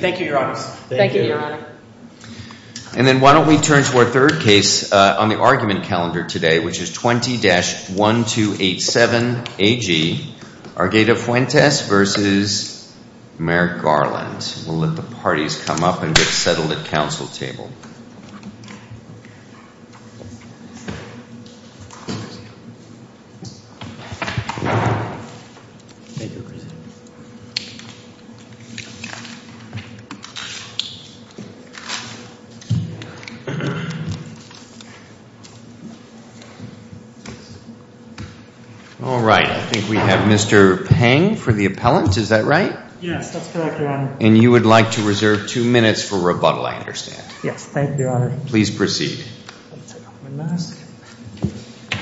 Thank you, Your Honor. And then why don't we turn to our third case on the argument calendar today, which is 20-1287-AG, Argueta-Fuentes v. Merrick Garland. We'll let the parties come up and get settled at council table. All right, I think we have Mr. Pang for the appellant. Is that right? Yes, that's correct, Your Honor. And you would like to reserve two minutes for rebuttal, I understand. Yes, thank you, Your Honor. Please proceed. I'll take off my mask.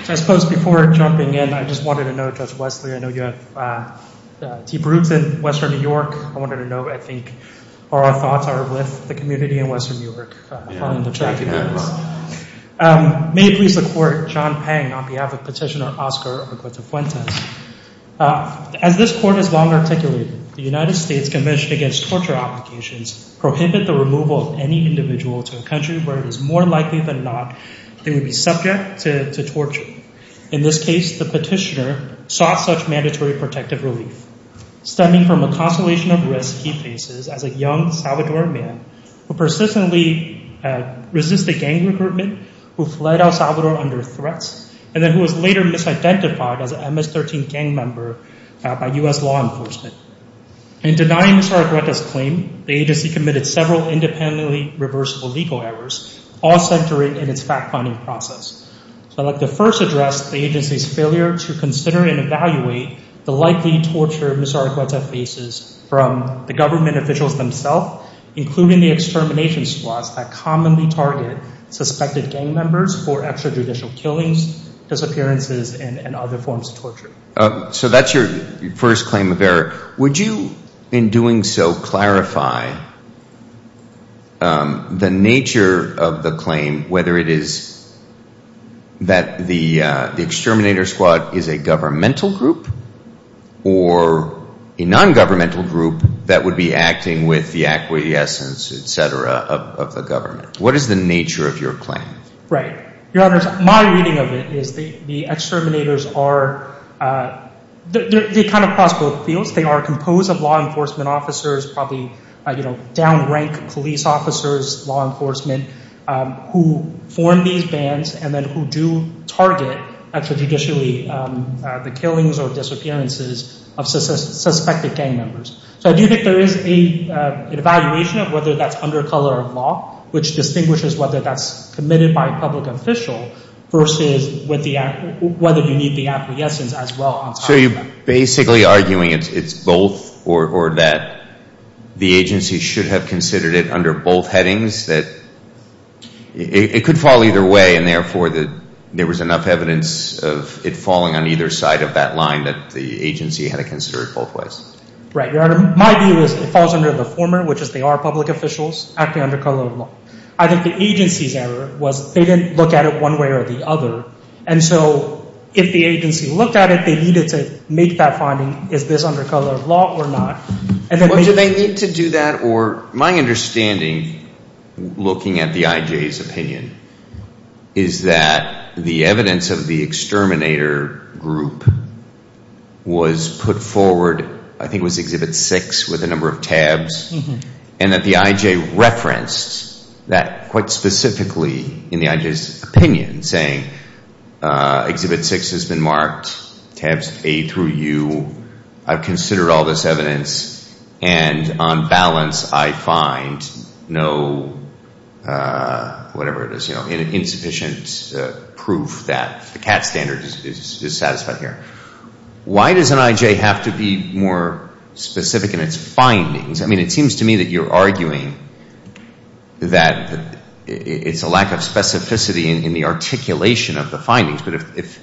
So I suppose before jumping in, I just wanted to note, Judge Wesley, I know you have deep roots in Western New York. I wanted to know, I think, how our thoughts are with the community in Western New York on the track. Yeah, thank you very much. May it please the Court, John Pang on behalf of Petitioner Oscar Argueta-Fuentes. As this Court has long articulated, the United States Convention Against Torture Applications prohibit the removal of any individual to a country where it is more likely than not they would be subject to torture. In this case, the petitioner sought such mandatory protective relief. Stemming from a constellation of risks he faces as a young Salvadoran man who persistently resisted gang recruitment, who fled El Salvador under threats, and then who was later misidentified as an MS-13 gang member by U.S. law enforcement. In denying Mr. Argueta's claim, the agency committed several independently reversible legal errors, all centering in its fact-finding process. So I'd like to first address the agency's failure to consider and evaluate the likely torture Mr. Argueta faces from the government officials themselves, including the extermination squads that commonly target suspected gang members for extrajudicial killings, disappearances, and other forms of torture. So that's your first claim of error. Would you, in doing so, clarify the nature of the claim, whether it is that the exterminator squad is a governmental group or a non-governmental group that would be acting with the acquiescence, etc., of the government? What is the nature of your claim? Right. Your Honor, my reading of it is the exterminators are – they kind of cross both fields. They are composed of law enforcement officers, probably down-ranked police officers, law enforcement, who form these bands and then who do target extrajudicially the killings or disappearances of suspected gang members. So I do think there is an evaluation of whether that's under color of law, which distinguishes whether that's committed by a public official versus whether you need the acquiescence as well on top of that. So you're basically arguing it's both or that the agency should have considered it under both headings, that it could fall either way and therefore that there was enough evidence of it falling on either side of that line that the agency had to consider it both ways? Right. Your Honor, my view is it falls under the former, which is they are public officials acting under color of law. I think the agency's error was they didn't look at it one way or the other. And so if the agency looked at it, they needed to make that finding, is this under color of law or not? Do they need to do that or – my understanding, looking at the IJ's opinion, is that the evidence of the exterminator group was put forward, I think it was Exhibit 6 with a number of tabs, and that the IJ referenced that quite specifically in the IJ's opinion, saying Exhibit 6 has been marked, tabs A through U, I've considered all this evidence and on balance I find no, whatever it is, insufficient proof that the CAT standard is satisfied here. Why does an IJ have to be more specific in its findings? I mean, it seems to me that you're arguing that it's a lack of specificity in the articulation of the findings, but if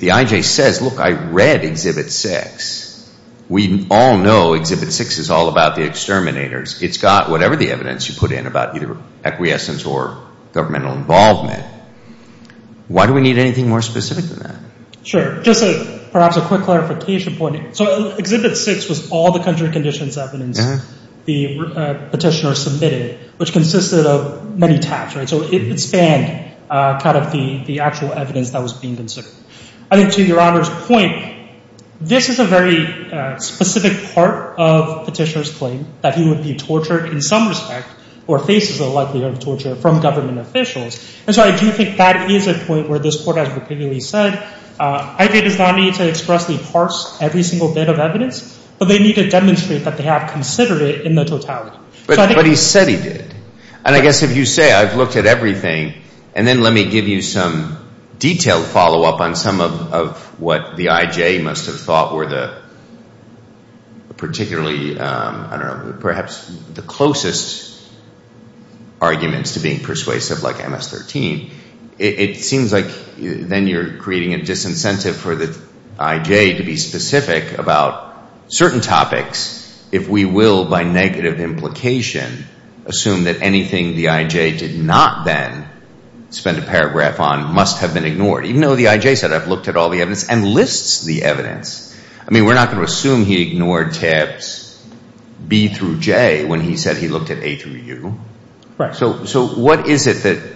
the IJ says, look, I read Exhibit 6, we all know Exhibit 6 is all about the exterminators, it's got whatever the evidence you put in about either acquiescence or governmental involvement, why do we need anything more specific than that? Sure, just perhaps a quick clarification point. So Exhibit 6 was all the country conditions evidence the petitioner submitted, which consisted of many tabs, right, so it spanned kind of the actual evidence that was being considered. I think to Your Honour's point, this is a very specific part of the petitioner's claim, that he would be tortured in some respect, or faces the likelihood of torture from government officials. And so I do think that is a point where this Court has repeatedly said, IJ does not need to expressly parse every single bit of evidence, but they need to demonstrate that they have considered it in the totality. But he said he did. And I guess if you say, I've looked at everything, and then let me give you some detailed follow-up on some of what the IJ must have thought were the particularly, I don't know, perhaps the persuasive, like MS-13, it seems like then you're creating a disincentive for the IJ to be specific about certain topics, if we will, by negative implication, assume that anything the IJ did not then spend a paragraph on must have been ignored, even though the IJ said, I've looked at all the evidence, and lists the evidence. I mean, we're not going to assume he ignored tabs B through J when he said he looked at A through U. Right. Right. So what is it that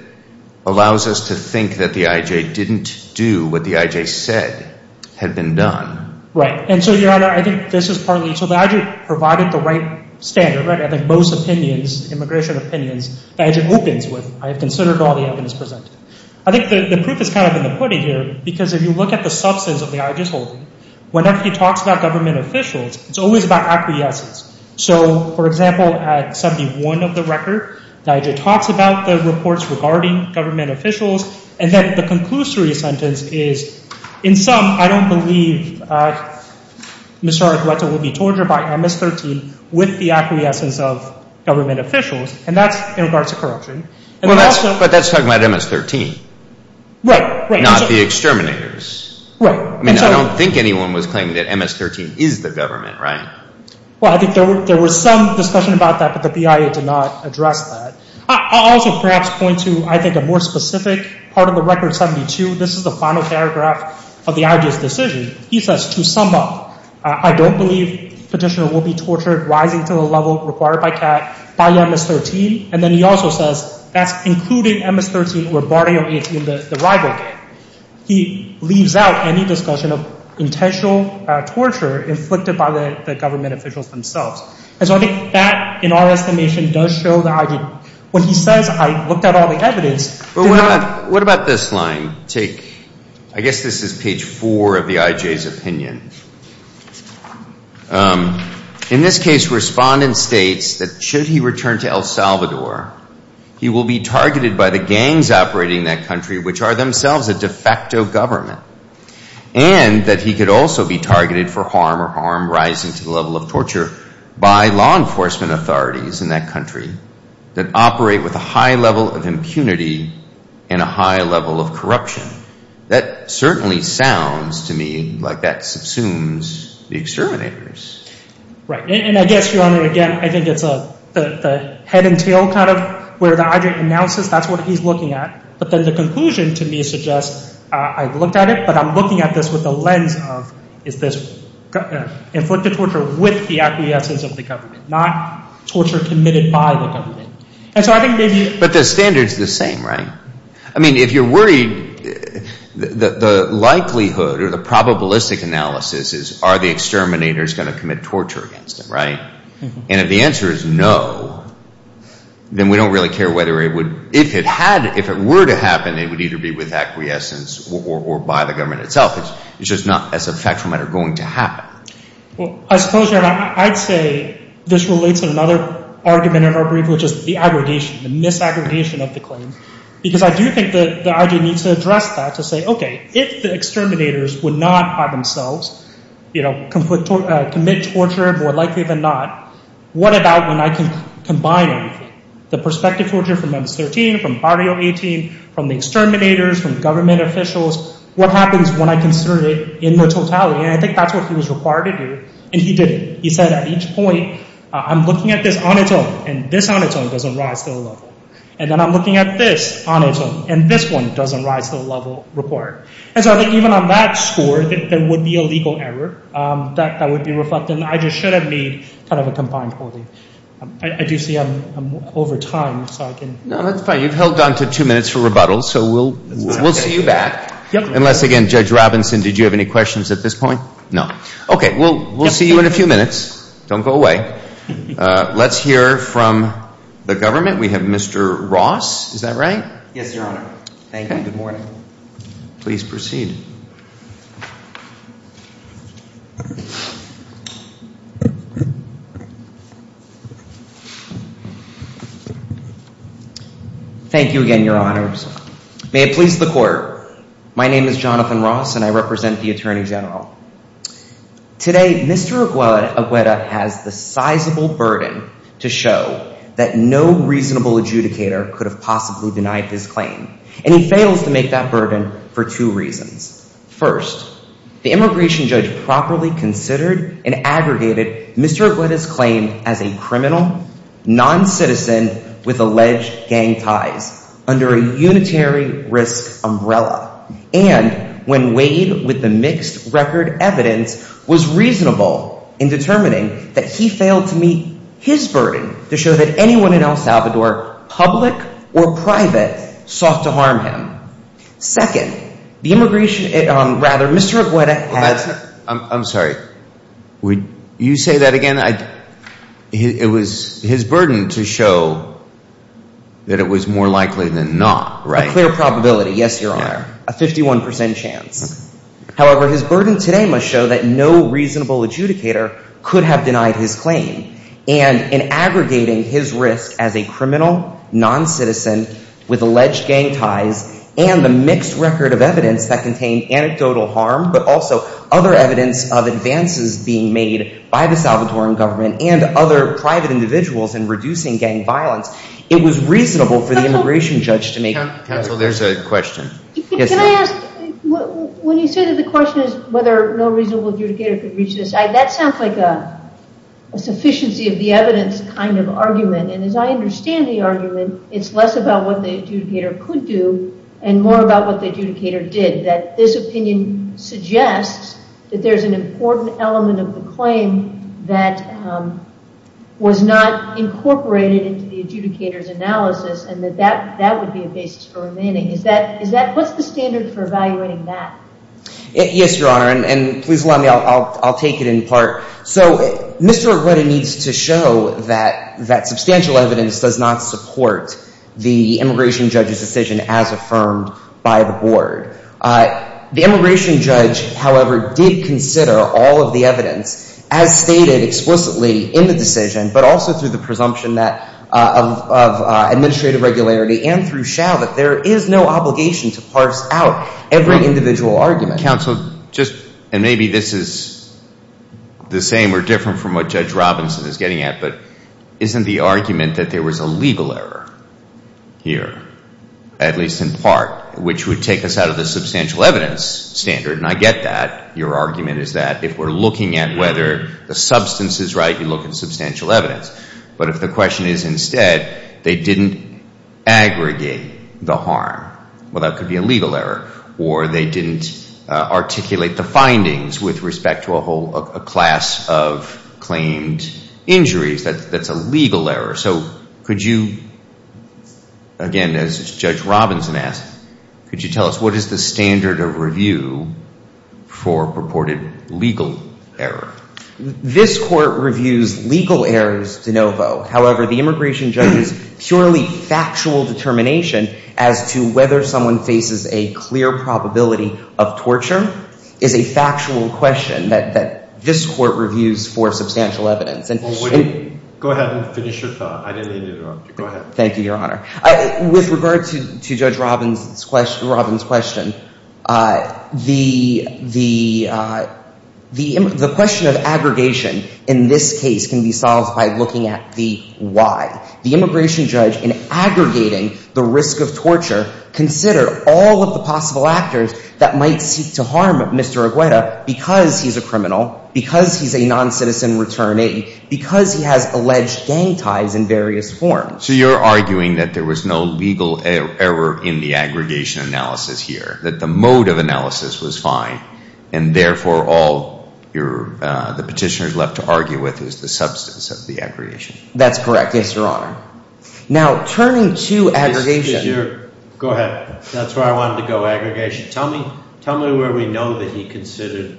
allows us to think that the IJ didn't do what the IJ said had been done? Right. And so, Your Honor, I think this is partly, so the IJ provided the right standard, right? I think most opinions, immigration opinions, the IJ opens with, I have considered all the evidence presented. I think the proof is kind of in the pudding here, because if you look at the substance of the IJ's holding, whenever he talks about government officials, it's always about acquiescence. So for example, at 71 of the record, the IJ talks about the reports regarding government officials, and then the conclusory sentence is, in sum, I don't believe Mr. Ardueto will be tortured by MS-13 with the acquiescence of government officials, and that's in regards to corruption. But that's talking about MS-13. Right. Right. Not the exterminators. Right. I mean, I don't think anyone was claiming that MS-13 is the government, right? Well, I think there was some discussion about that, but the BIA did not address that. I'll also perhaps point to, I think, a more specific part of the record, 72. This is the final paragraph of the IJ's decision. He says, to sum up, I don't believe petitioner will be tortured, rising to the level required by CAT, by MS-13. And then he also says, that's including MS-13 or Barrio 18, the rival gang. He leaves out any discussion of intentional torture inflicted by the government officials themselves. And so I think that, in our estimation, does show the IJ. When he says, I looked at all the evidence. What about this line? Take, I guess this is page four of the IJ's opinion. In this case, respondent states that should he return to El Salvador, he will be targeted by the gangs operating in that country, which are themselves a de facto government. And that he could also be targeted for harm or harm rising to the level of torture by law enforcement authorities in that country that operate with a high level of impunity and a high level of corruption. That certainly sounds to me like that subsumes the exterminators. Right. And I guess, Your Honor, again, I think it's the head and tail kind of where the IJ announces that's what he's looking at. But then the conclusion to me suggests, I've looked at it, but I'm looking at this with the lens of, is this inflicted torture with the absences of the government, not torture committed by the government. And so I think maybe... But the standard's the same, right? I mean, if you're worried, the likelihood or the probabilistic analysis is, are the exterminators going to commit torture against them, right? And if the answer is no, then we don't really care whether it would... If it had... If it were to happen, it would either be with acquiescence or by the government itself. It's just not, as a factual matter, going to happen. Well, I suppose, Your Honor, I'd say this relates to another argument in our brief, which is the aggregation, the mis-aggregation of the claim. Because I do think that the IJ needs to address that to say, okay, if the exterminators would not, by themselves, commit torture, more likely than not, what about when I can combine everything? The prospective torture from MS-13, from Barrio 18, from the exterminators, from government officials, what happens when I consider it in the totality? And I think that's what he was required to do, and he did it. He said at each point, I'm looking at this on its own, and this on its own doesn't rise to the level. And then I'm looking at this on its own, and this one doesn't rise to the level required. And so I think even on that score, there would be a legal error that would be reflected. And I just should have made kind of a combined polling. I do see I'm over time, so I can... No, that's fine. You've held on to two minutes for rebuttal, so we'll see you back. Unless, again, Judge Robinson, did you have any questions at this point? No. Okay. We'll see you in a few minutes. Don't go away. Let's hear from the government. We have Mr. Ross. Is that right? Yes, Your Honor. Thank you. And good morning. Please proceed. Thank you again, Your Honors. May it please the Court. My name is Jonathan Ross, and I represent the Attorney General. Today, Mr. Agueda has the sizable burden to show that no reasonable adjudicator could have possibly denied his claim. And he fails to make that burden for two reasons. First, the immigration judge properly considered and aggregated Mr. Agueda's claim as a criminal non-citizen with alleged gang ties under a unitary risk umbrella. And when weighed with the mixed record evidence, was reasonable in determining that he failed to meet his burden to show that anyone in El Salvador, public or private, sought to harm him. Second, the immigration – rather, Mr. Agueda had – I'm sorry. Would you say that again? It was his burden to show that it was more likely than not, right? A clear probability, yes, Your Honor. A 51 percent chance. However, his burden today must show that no reasonable adjudicator could have denied his claim. And in aggregating his risk as a criminal non-citizen with alleged gang ties and the mixed record of evidence that contained anecdotal harm, but also other evidence of advances being made by the Salvadoran government and other private individuals in reducing gang violence, it was reasonable for the immigration judge to make – Counsel, there's a question. Can I ask, when you say that the question is whether no reasonable adjudicator could reach this, that sounds like a sufficiency of the evidence kind of argument. And as I understand the argument, it's less about what the adjudicator could do and more about what the adjudicator did, that this opinion suggests that there's an important element of the claim that was not incorporated into the adjudicator's analysis and that that would be a basis for remaining. Is that – what's the standard for evaluating that? Yes, Your Honor, and please allow me. I'll take it in part. So Mr. Arrueta needs to show that substantial evidence does not support the immigration judge's decision as affirmed by the board. The immigration judge, however, did consider all of the evidence as stated explicitly in the decision, but also through the presumption of administrative regularity and through no obligation to parse out every individual argument. Counsel, just – and maybe this is the same or different from what Judge Robinson is getting at, but isn't the argument that there was a legal error here, at least in part, which would take us out of the substantial evidence standard? And I get that. Your argument is that if we're looking at whether the substance is right, you look at substantial evidence. But if the question is instead, they didn't aggregate the harm, well, that could be a legal error, or they didn't articulate the findings with respect to a whole – a class of claimed injuries, that's a legal error. So could you – again, as Judge Robinson asked, could you tell us what is the standard of review for purported legal error? This Court reviews legal errors de novo. However, the immigration judge's purely factual determination as to whether someone faces a clear probability of torture is a factual question that this Court reviews for substantial evidence. Go ahead and finish your thought. I didn't mean to interrupt you. Go ahead. Thank you, Your Honor. With regard to Judge Robins' question, the question of aggregation in this case can be solved by looking at the why. The immigration judge, in aggregating the risk of torture, considered all of the possible actors that might seek to harm Mr. Agueda because he's a criminal, because he's a noncitizen returning, because he has alleged gang ties in various forms. So you're arguing that there was no legal error in the aggregation analysis here, that the mode of analysis was fine, and therefore all the petitioner's left to argue with is the substance of the aggregation. That's correct, yes, Your Honor. Now, turning to aggregation – Go ahead. That's where I wanted to go, aggregation. Tell me where we know that he considered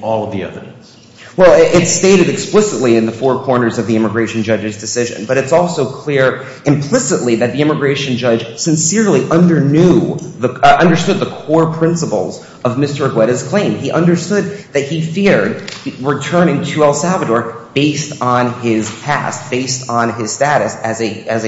all of the evidence. Well, it's stated explicitly in the four corners of the immigration judge's decision, but it's also clear implicitly that the immigration judge sincerely understood the core principles of Mr. Agueda's claim. He understood that he feared returning to El Salvador based on his past, based on his status as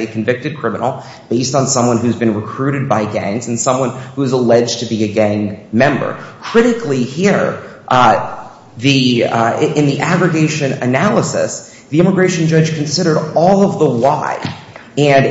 a convicted criminal, based on someone who's been recruited by gangs and someone who's alleged to be a gang member. Critically here, the – in the aggregation analysis, the immigration judge considered all of the why. And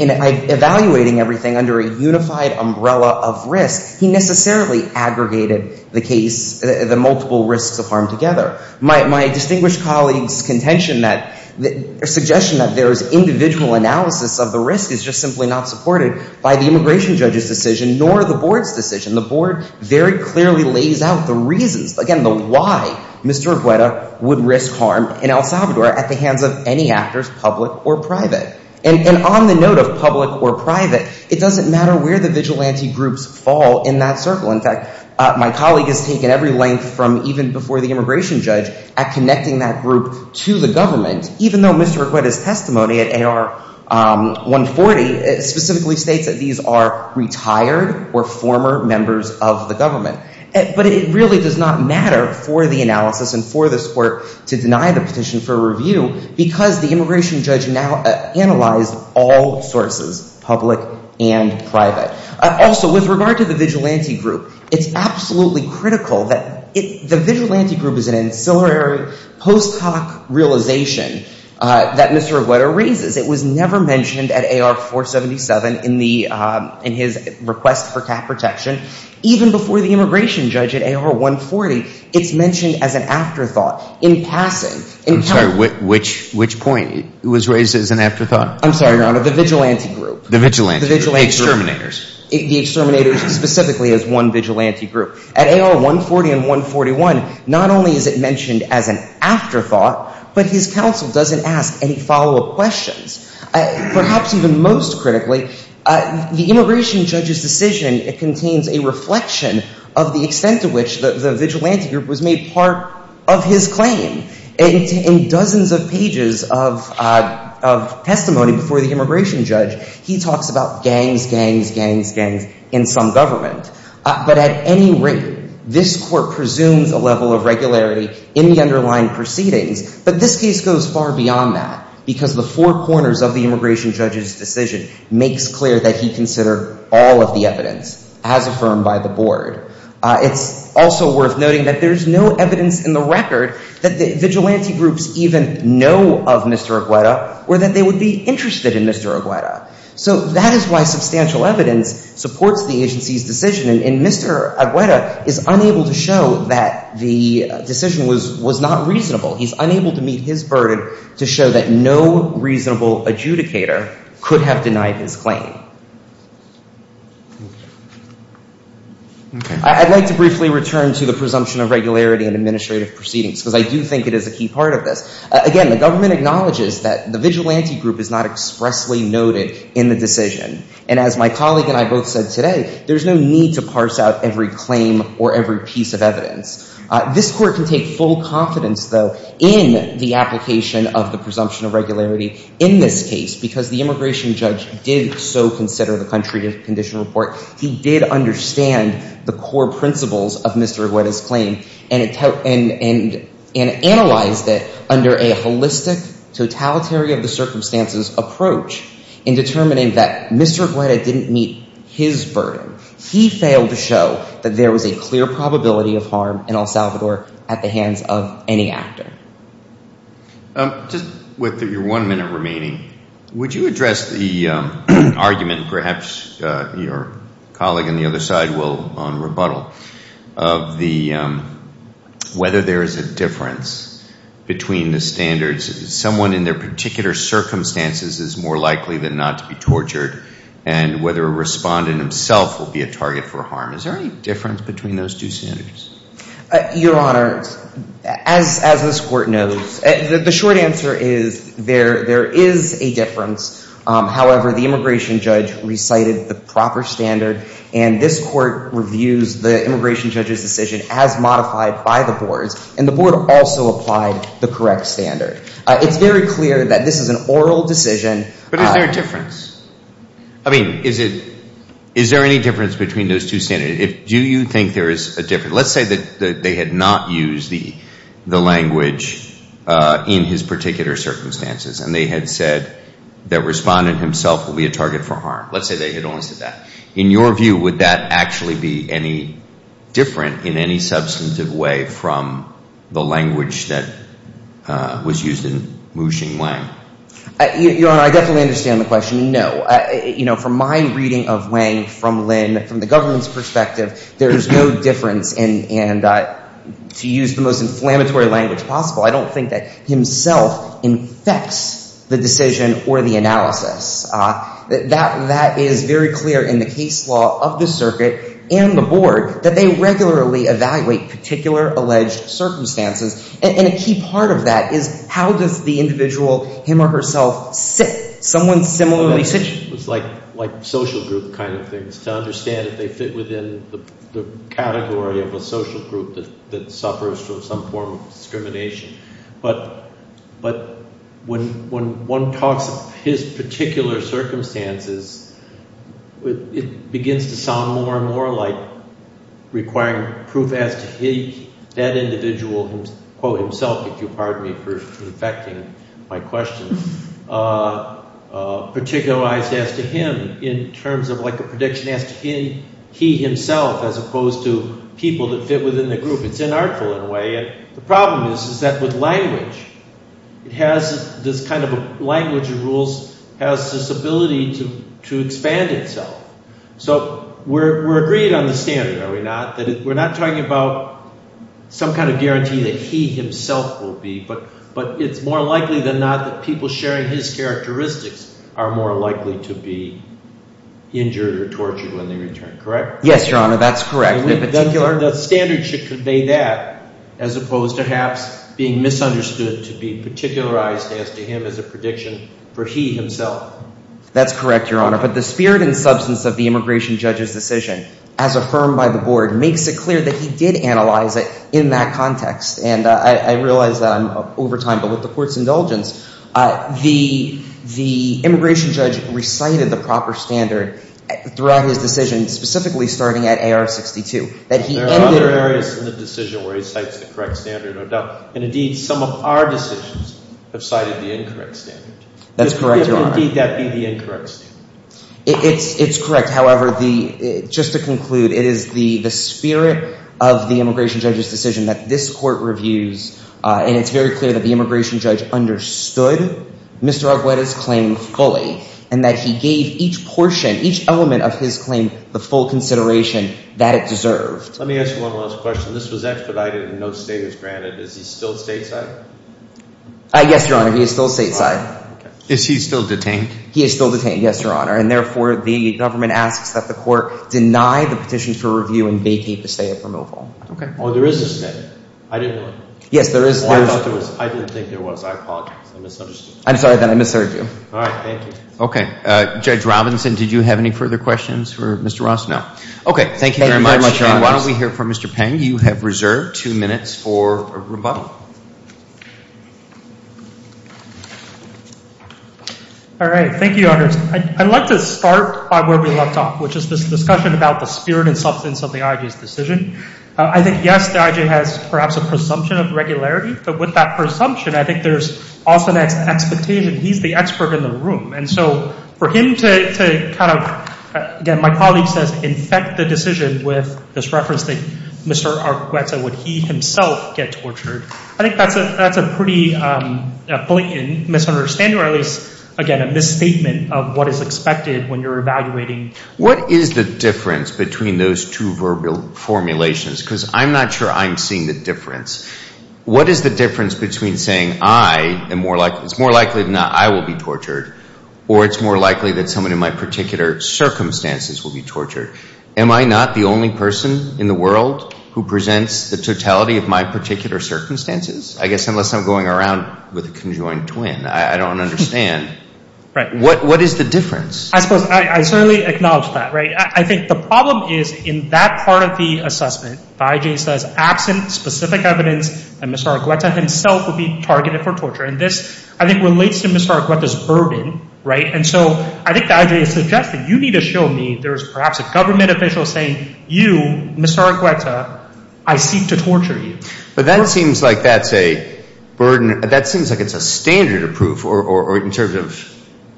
in evaluating everything under a unified umbrella of risk, he necessarily aggregated the case – the multiple risks of harm together. My distinguished colleague's contention that – suggestion that there is individual analysis of the risk is just simply not supported by the immigration judge's decision nor the Board's decision. The Board very clearly lays out the reasons, again, the why Mr. Agueda would risk harm in El Salvador at the hands of any actors, public or private. And on the note of public or private, it doesn't matter where the vigilante groups fall in that circle. In fact, my colleague has taken every length from even before the immigration judge at connecting that group to the government, even though Mr. Agueda's testimony at AR-140 specifically states that these are retired or former members of the government. But it really does not matter for the analysis and for this Court to deny the petition for review because the immigration judge now analyzed all sources, public and private. Also, with regard to the vigilante group, it's absolutely critical that – the vigilante group is an ancillary post hoc realization that Mr. Agueda raises. It was never mentioned at AR-477 in the – in his request for cap protection. Even before the immigration judge at AR-140, it's mentioned as an afterthought. In passing – I'm sorry. Which point was raised as an afterthought? I'm sorry, Your Honor. The vigilante group. The vigilante group. The vigilante group. The exterminators. The exterminators specifically as one vigilante group. At AR-140 and 141, not only is it mentioned as an afterthought, but his counsel doesn't ask any follow-up questions. Perhaps even most critically, the immigration judge's decision contains a reflection of the extent to which the vigilante group was made part of his claim. In dozens of pages of testimony before the immigration judge, he talks about gangs, gangs, gangs, gangs in some government. But at any rate, this Court presumes a level of regularity in the underlying proceedings. But this case goes far beyond that because the four corners of the immigration judge's decision makes clear that he considered all of the evidence as affirmed by the Board. It's also worth noting that there's no evidence in the record that the vigilante groups even know of Mr. Agueda or that they would be interested in Mr. Agueda. So that is why substantial evidence supports the agency's decision. And Mr. Agueda is unable to show that the decision was not reasonable. He's unable to meet his burden to show that no reasonable adjudicator could have denied his claim. I'd like to briefly return to the presumption of regularity in administrative proceedings because I do think it is a key part of this. Again, the government acknowledges that the vigilante group is not expressly noted in the decision. And as my colleague and I both said today, there's no need to parse out every claim or every piece of evidence. This Court can take full confidence, though, in the application of the presumption of regularity in this case because the immigration judge did so consider the country condition report. He did understand the core principles of Mr. Agueda's claim and analyzed it under a holistic, totalitary of the circumstances approach in determining that Mr. Agueda didn't meet his burden. He failed to show that there was a clear probability of harm in El Salvador at the hands of any actor. Just with your one minute remaining, would you address the argument, perhaps your colleague on the other side will on rebuttal, of the whether there is a difference between the standards, someone in their particular circumstances is more likely than not to be tortured, and whether a respondent himself will be a target for harm? Is there any difference between those two standards? Your Honor, as this Court knows, the short answer is there is a difference. However, the immigration judge recited the proper standard, and this Court reviews the immigration judge's decision as modified by the boards, and the board also applied the correct standard. It's very clear that this is an oral decision. But is there a difference? I mean, is there any difference between those two standards? Do you think there is a difference? Let's say that they had not used the language in his particular circumstances, and they had said that respondent himself will be a target for harm. Let's say they had only said that. In your view, would that actually be any different in any substantive way from the language that was used in Mu Xing Wang? Your Honor, I definitely understand the question. No. You know, from my reading of Wang from Lin, from the government's perspective, there is no difference, and to use the most inflammatory language possible, I don't think that himself infects the decision or the analysis. That is very clear in the case law of the circuit and the board, that they regularly evaluate particular alleged circumstances. And a key part of that is how does the individual, him or herself, sit? Someone similarly sits? It's like social group kind of things, to understand if they fit within the category of a social group that suffers from some form of discrimination. But when one talks of his particular circumstances, it begins to sound more and more like requiring proof as to he, that individual himself, if you'll pardon me for affecting my question, particularized as to him in terms of like a prediction as to he himself as opposed to people that fit within the group. It's inartful in a way. The problem is that with language, it has this kind of a language of rules, has this ability to expand itself. So we're agreed on the standard, are we not? That we're not talking about some kind of guarantee that he himself will be, but it's more likely than not that people sharing his characteristics are more likely to be injured or tortured when they return, correct? Yes, Your Honor. That's correct. The standard should convey that as opposed to perhaps being misunderstood to be particularized as to him as a prediction for he himself. That's correct, Your Honor. But the spirit and substance of the immigration judge's decision as affirmed by the board makes it clear that he did analyze it in that context. And I realize that I'm over time, but with the court's indulgence, the immigration judge recited the proper standard throughout his decision, specifically starting at AR-62. There are other areas in the decision where he cites the correct standard, no doubt. And indeed, some of our decisions have cited the incorrect standard. That's correct, Your Honor. And indeed, that'd be the incorrect standard. It's correct. However, just to conclude, it is the spirit of the immigration judge's decision that this court reviews, and it's very clear that the immigration judge understood Mr. Agueda's claim fully and that he gave each portion, each element of his claim the full consideration that it deserved. Let me ask you one last question. This was expedited and no state is granted. Is he still stateside? Yes, Your Honor. He is still stateside. Is he still detained? He is still detained, yes, Your Honor. And therefore, the government asks that the court deny the petition for review and vacate the state of removal. Okay. Oh, there is a state. I didn't know that. Yes, there is. Oh, I thought there was. I didn't think there was. I apologize. I misunderstood. I'm sorry, then. I misheard you. All right. Okay. Judge Robinson, did you have any further questions for Mr. Ross? No. Okay. Thank you very much. Thank you very much, Your Honor. And why don't we hear from Mr. Peng. Mr. Peng, you have reserved two minutes for rebuttal. All right. Thank you, Your Honor. I'd like to start by where we left off, which is this discussion about the spirit and substance of the IJ's decision. I think, yes, the IJ has perhaps a presumption of regularity. But with that presumption, I think there's often an expectation he's the expert in the room. And so for him to kind of, again, my colleague says, infect the decision with this reference And I think that's a good point. And I think that's a good point. And I think that's a good point. the totality of my particular circumstances? I guess unless I'm going around with a conjoined twin. I don't understand. What is the difference? I certainly acknowledge that. I think the problem is, in that part of the assessment, the IJ says, absent specific evidence and Mr. Argueta himself would be targeted for torture. And this, I think, relates to Mr. Argueta's burden. And so I think the IJ suggested you need to show me there's perhaps a government official saying, you, Mr. Argueta, I seek to torture you. But that seems like that's a burden. That seems like it's a standard of proof. Or in terms of,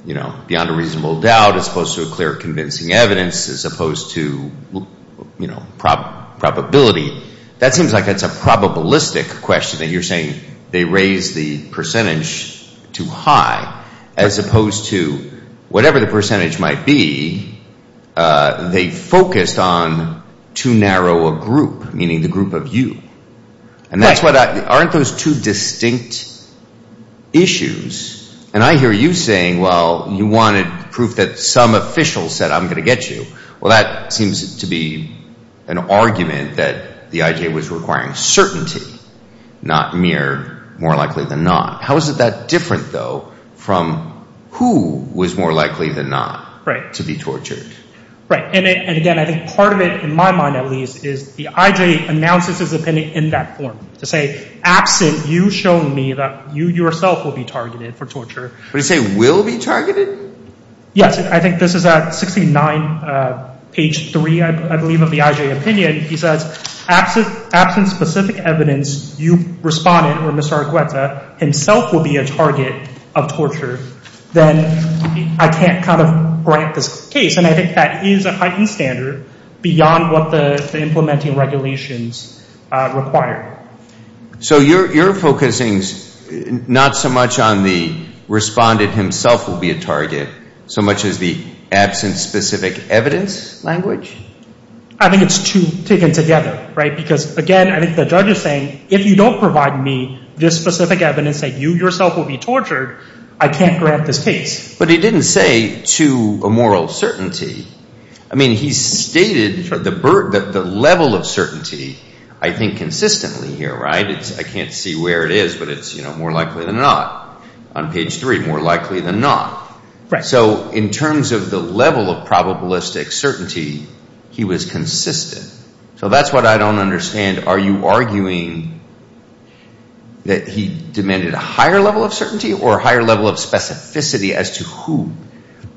you know, beyond a reasonable doubt, as opposed to a clear convincing evidence, as opposed to, you know, probability. That seems like it's a probabilistic question that you're saying they raise the percentage to high, as opposed to whatever the percentage might be. They focused on too narrow a group, meaning the group of you. And that's what I, aren't those two distinct issues? And I hear you saying, well, you wanted proof that some official said I'm going to get you. Well, that seems to be an argument that the IJ was requiring certainty, not mere more likely than not. How is it that different, though, from who was more likely than not to be tortured? Right. And again, I think part of it, in my mind at least, is the IJ announces his opinion in that form. To say, absent you showing me that you yourself will be targeted for torture. Would he say will be targeted? Yes. I think this is at 69 page 3, I believe, of the IJ opinion. He says, absent specific evidence, you respondent or Mr. Argueta himself will be a target of torture. Then I can't kind of grant this case. And I think that is a heightened standard beyond what the implementing regulations require. So you're focusing not so much on the respondent himself will be a target, so much as the absent specific evidence language? I think it's two taken together, right? Because again, I think the judge is saying, if you don't provide me this specific evidence that you yourself will be tortured, I can't grant this case. But he didn't say to a moral certainty. I mean, he stated the level of certainty, I think, consistently here, right? I can't see where it is, but it's more likely than not. On page 3, more likely than not. Right. So in terms of the level of probabilistic certainty, he was consistent. So that's what I don't understand. Are you arguing that he demanded a higher level of certainty or a higher level of specificity as to who?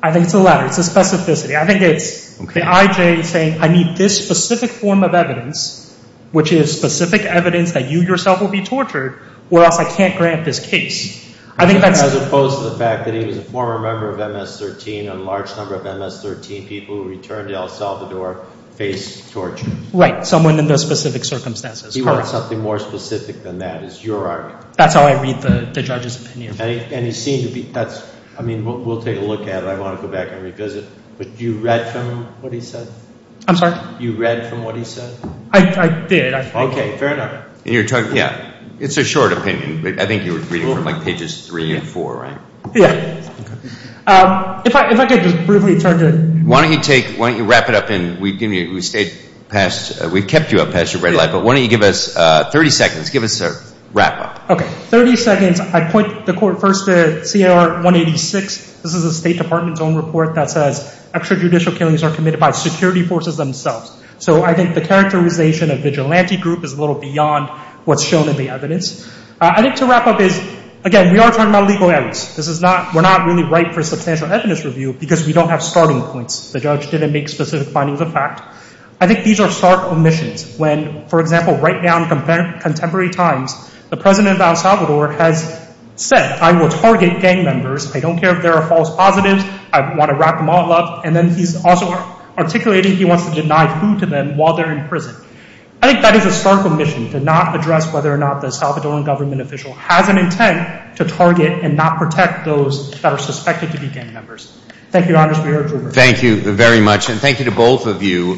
I think it's the latter. It's the specificity. I think it's the IJ saying, I need this specific form of evidence, which is specific evidence that you yourself will be tortured, or else I can't grant this case. As opposed to the fact that he was a former member of MS-13, and a large number of MS-13 people who returned to El Salvador faced torture. Right. Someone in those specific circumstances. He wanted something more specific than that, is your argument. That's how I read the judge's opinion. And he seemed to be, that's, I mean, we'll take a look at it. I want to go back and revisit. But you read from what he said? I'm sorry? You read from what he said? I did. Okay, fair enough. And you're talking, yeah. It's a short opinion, but I think you were reading from like pages 3 and 4, right? Yeah. If I could just briefly turn to... Why don't you take, why don't you wrap it up, and we've kept you up past your red light, but why don't you give us 30 seconds, give us a wrap up. Okay, 30 seconds. I point the court first to CAR 186. This is the State Department's own report that says extrajudicial killings are committed by security forces themselves. So I think the characterization of vigilante group is a little beyond what's shown in the evidence. I think to wrap up is, again, we are talking about legal evidence. This is not, we're not really ripe for substantial evidence review because we don't have starting points. The judge didn't make specific findings of fact. I think these are stark omissions when, for example, right now in contemporary times, the president of El Salvador has said, I will target gang members. I don't care if there are false positives. I want to wrap them all up. And then he's also articulating he wants to deny food to them while they're in prison. I think that is a stark omission to not address whether or not the Salvadoran government official has an intent to target and not protect those that are suspected to be gang members. Thank you, Your Honor. Thank you very much. And thank you to both of you.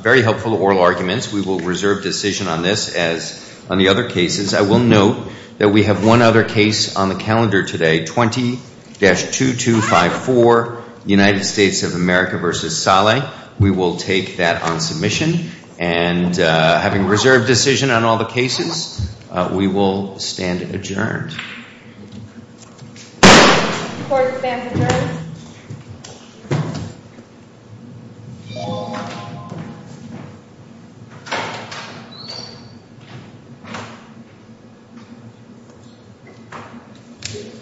Very helpful oral arguments. We will reserve decision on this as on the other cases. I will note that we have one other case on the calendar today, 20-2254, United States of America v. Saleh. We will take that on submission. And having reserved decision on all the cases, we will stand adjourned. Court is adjourned.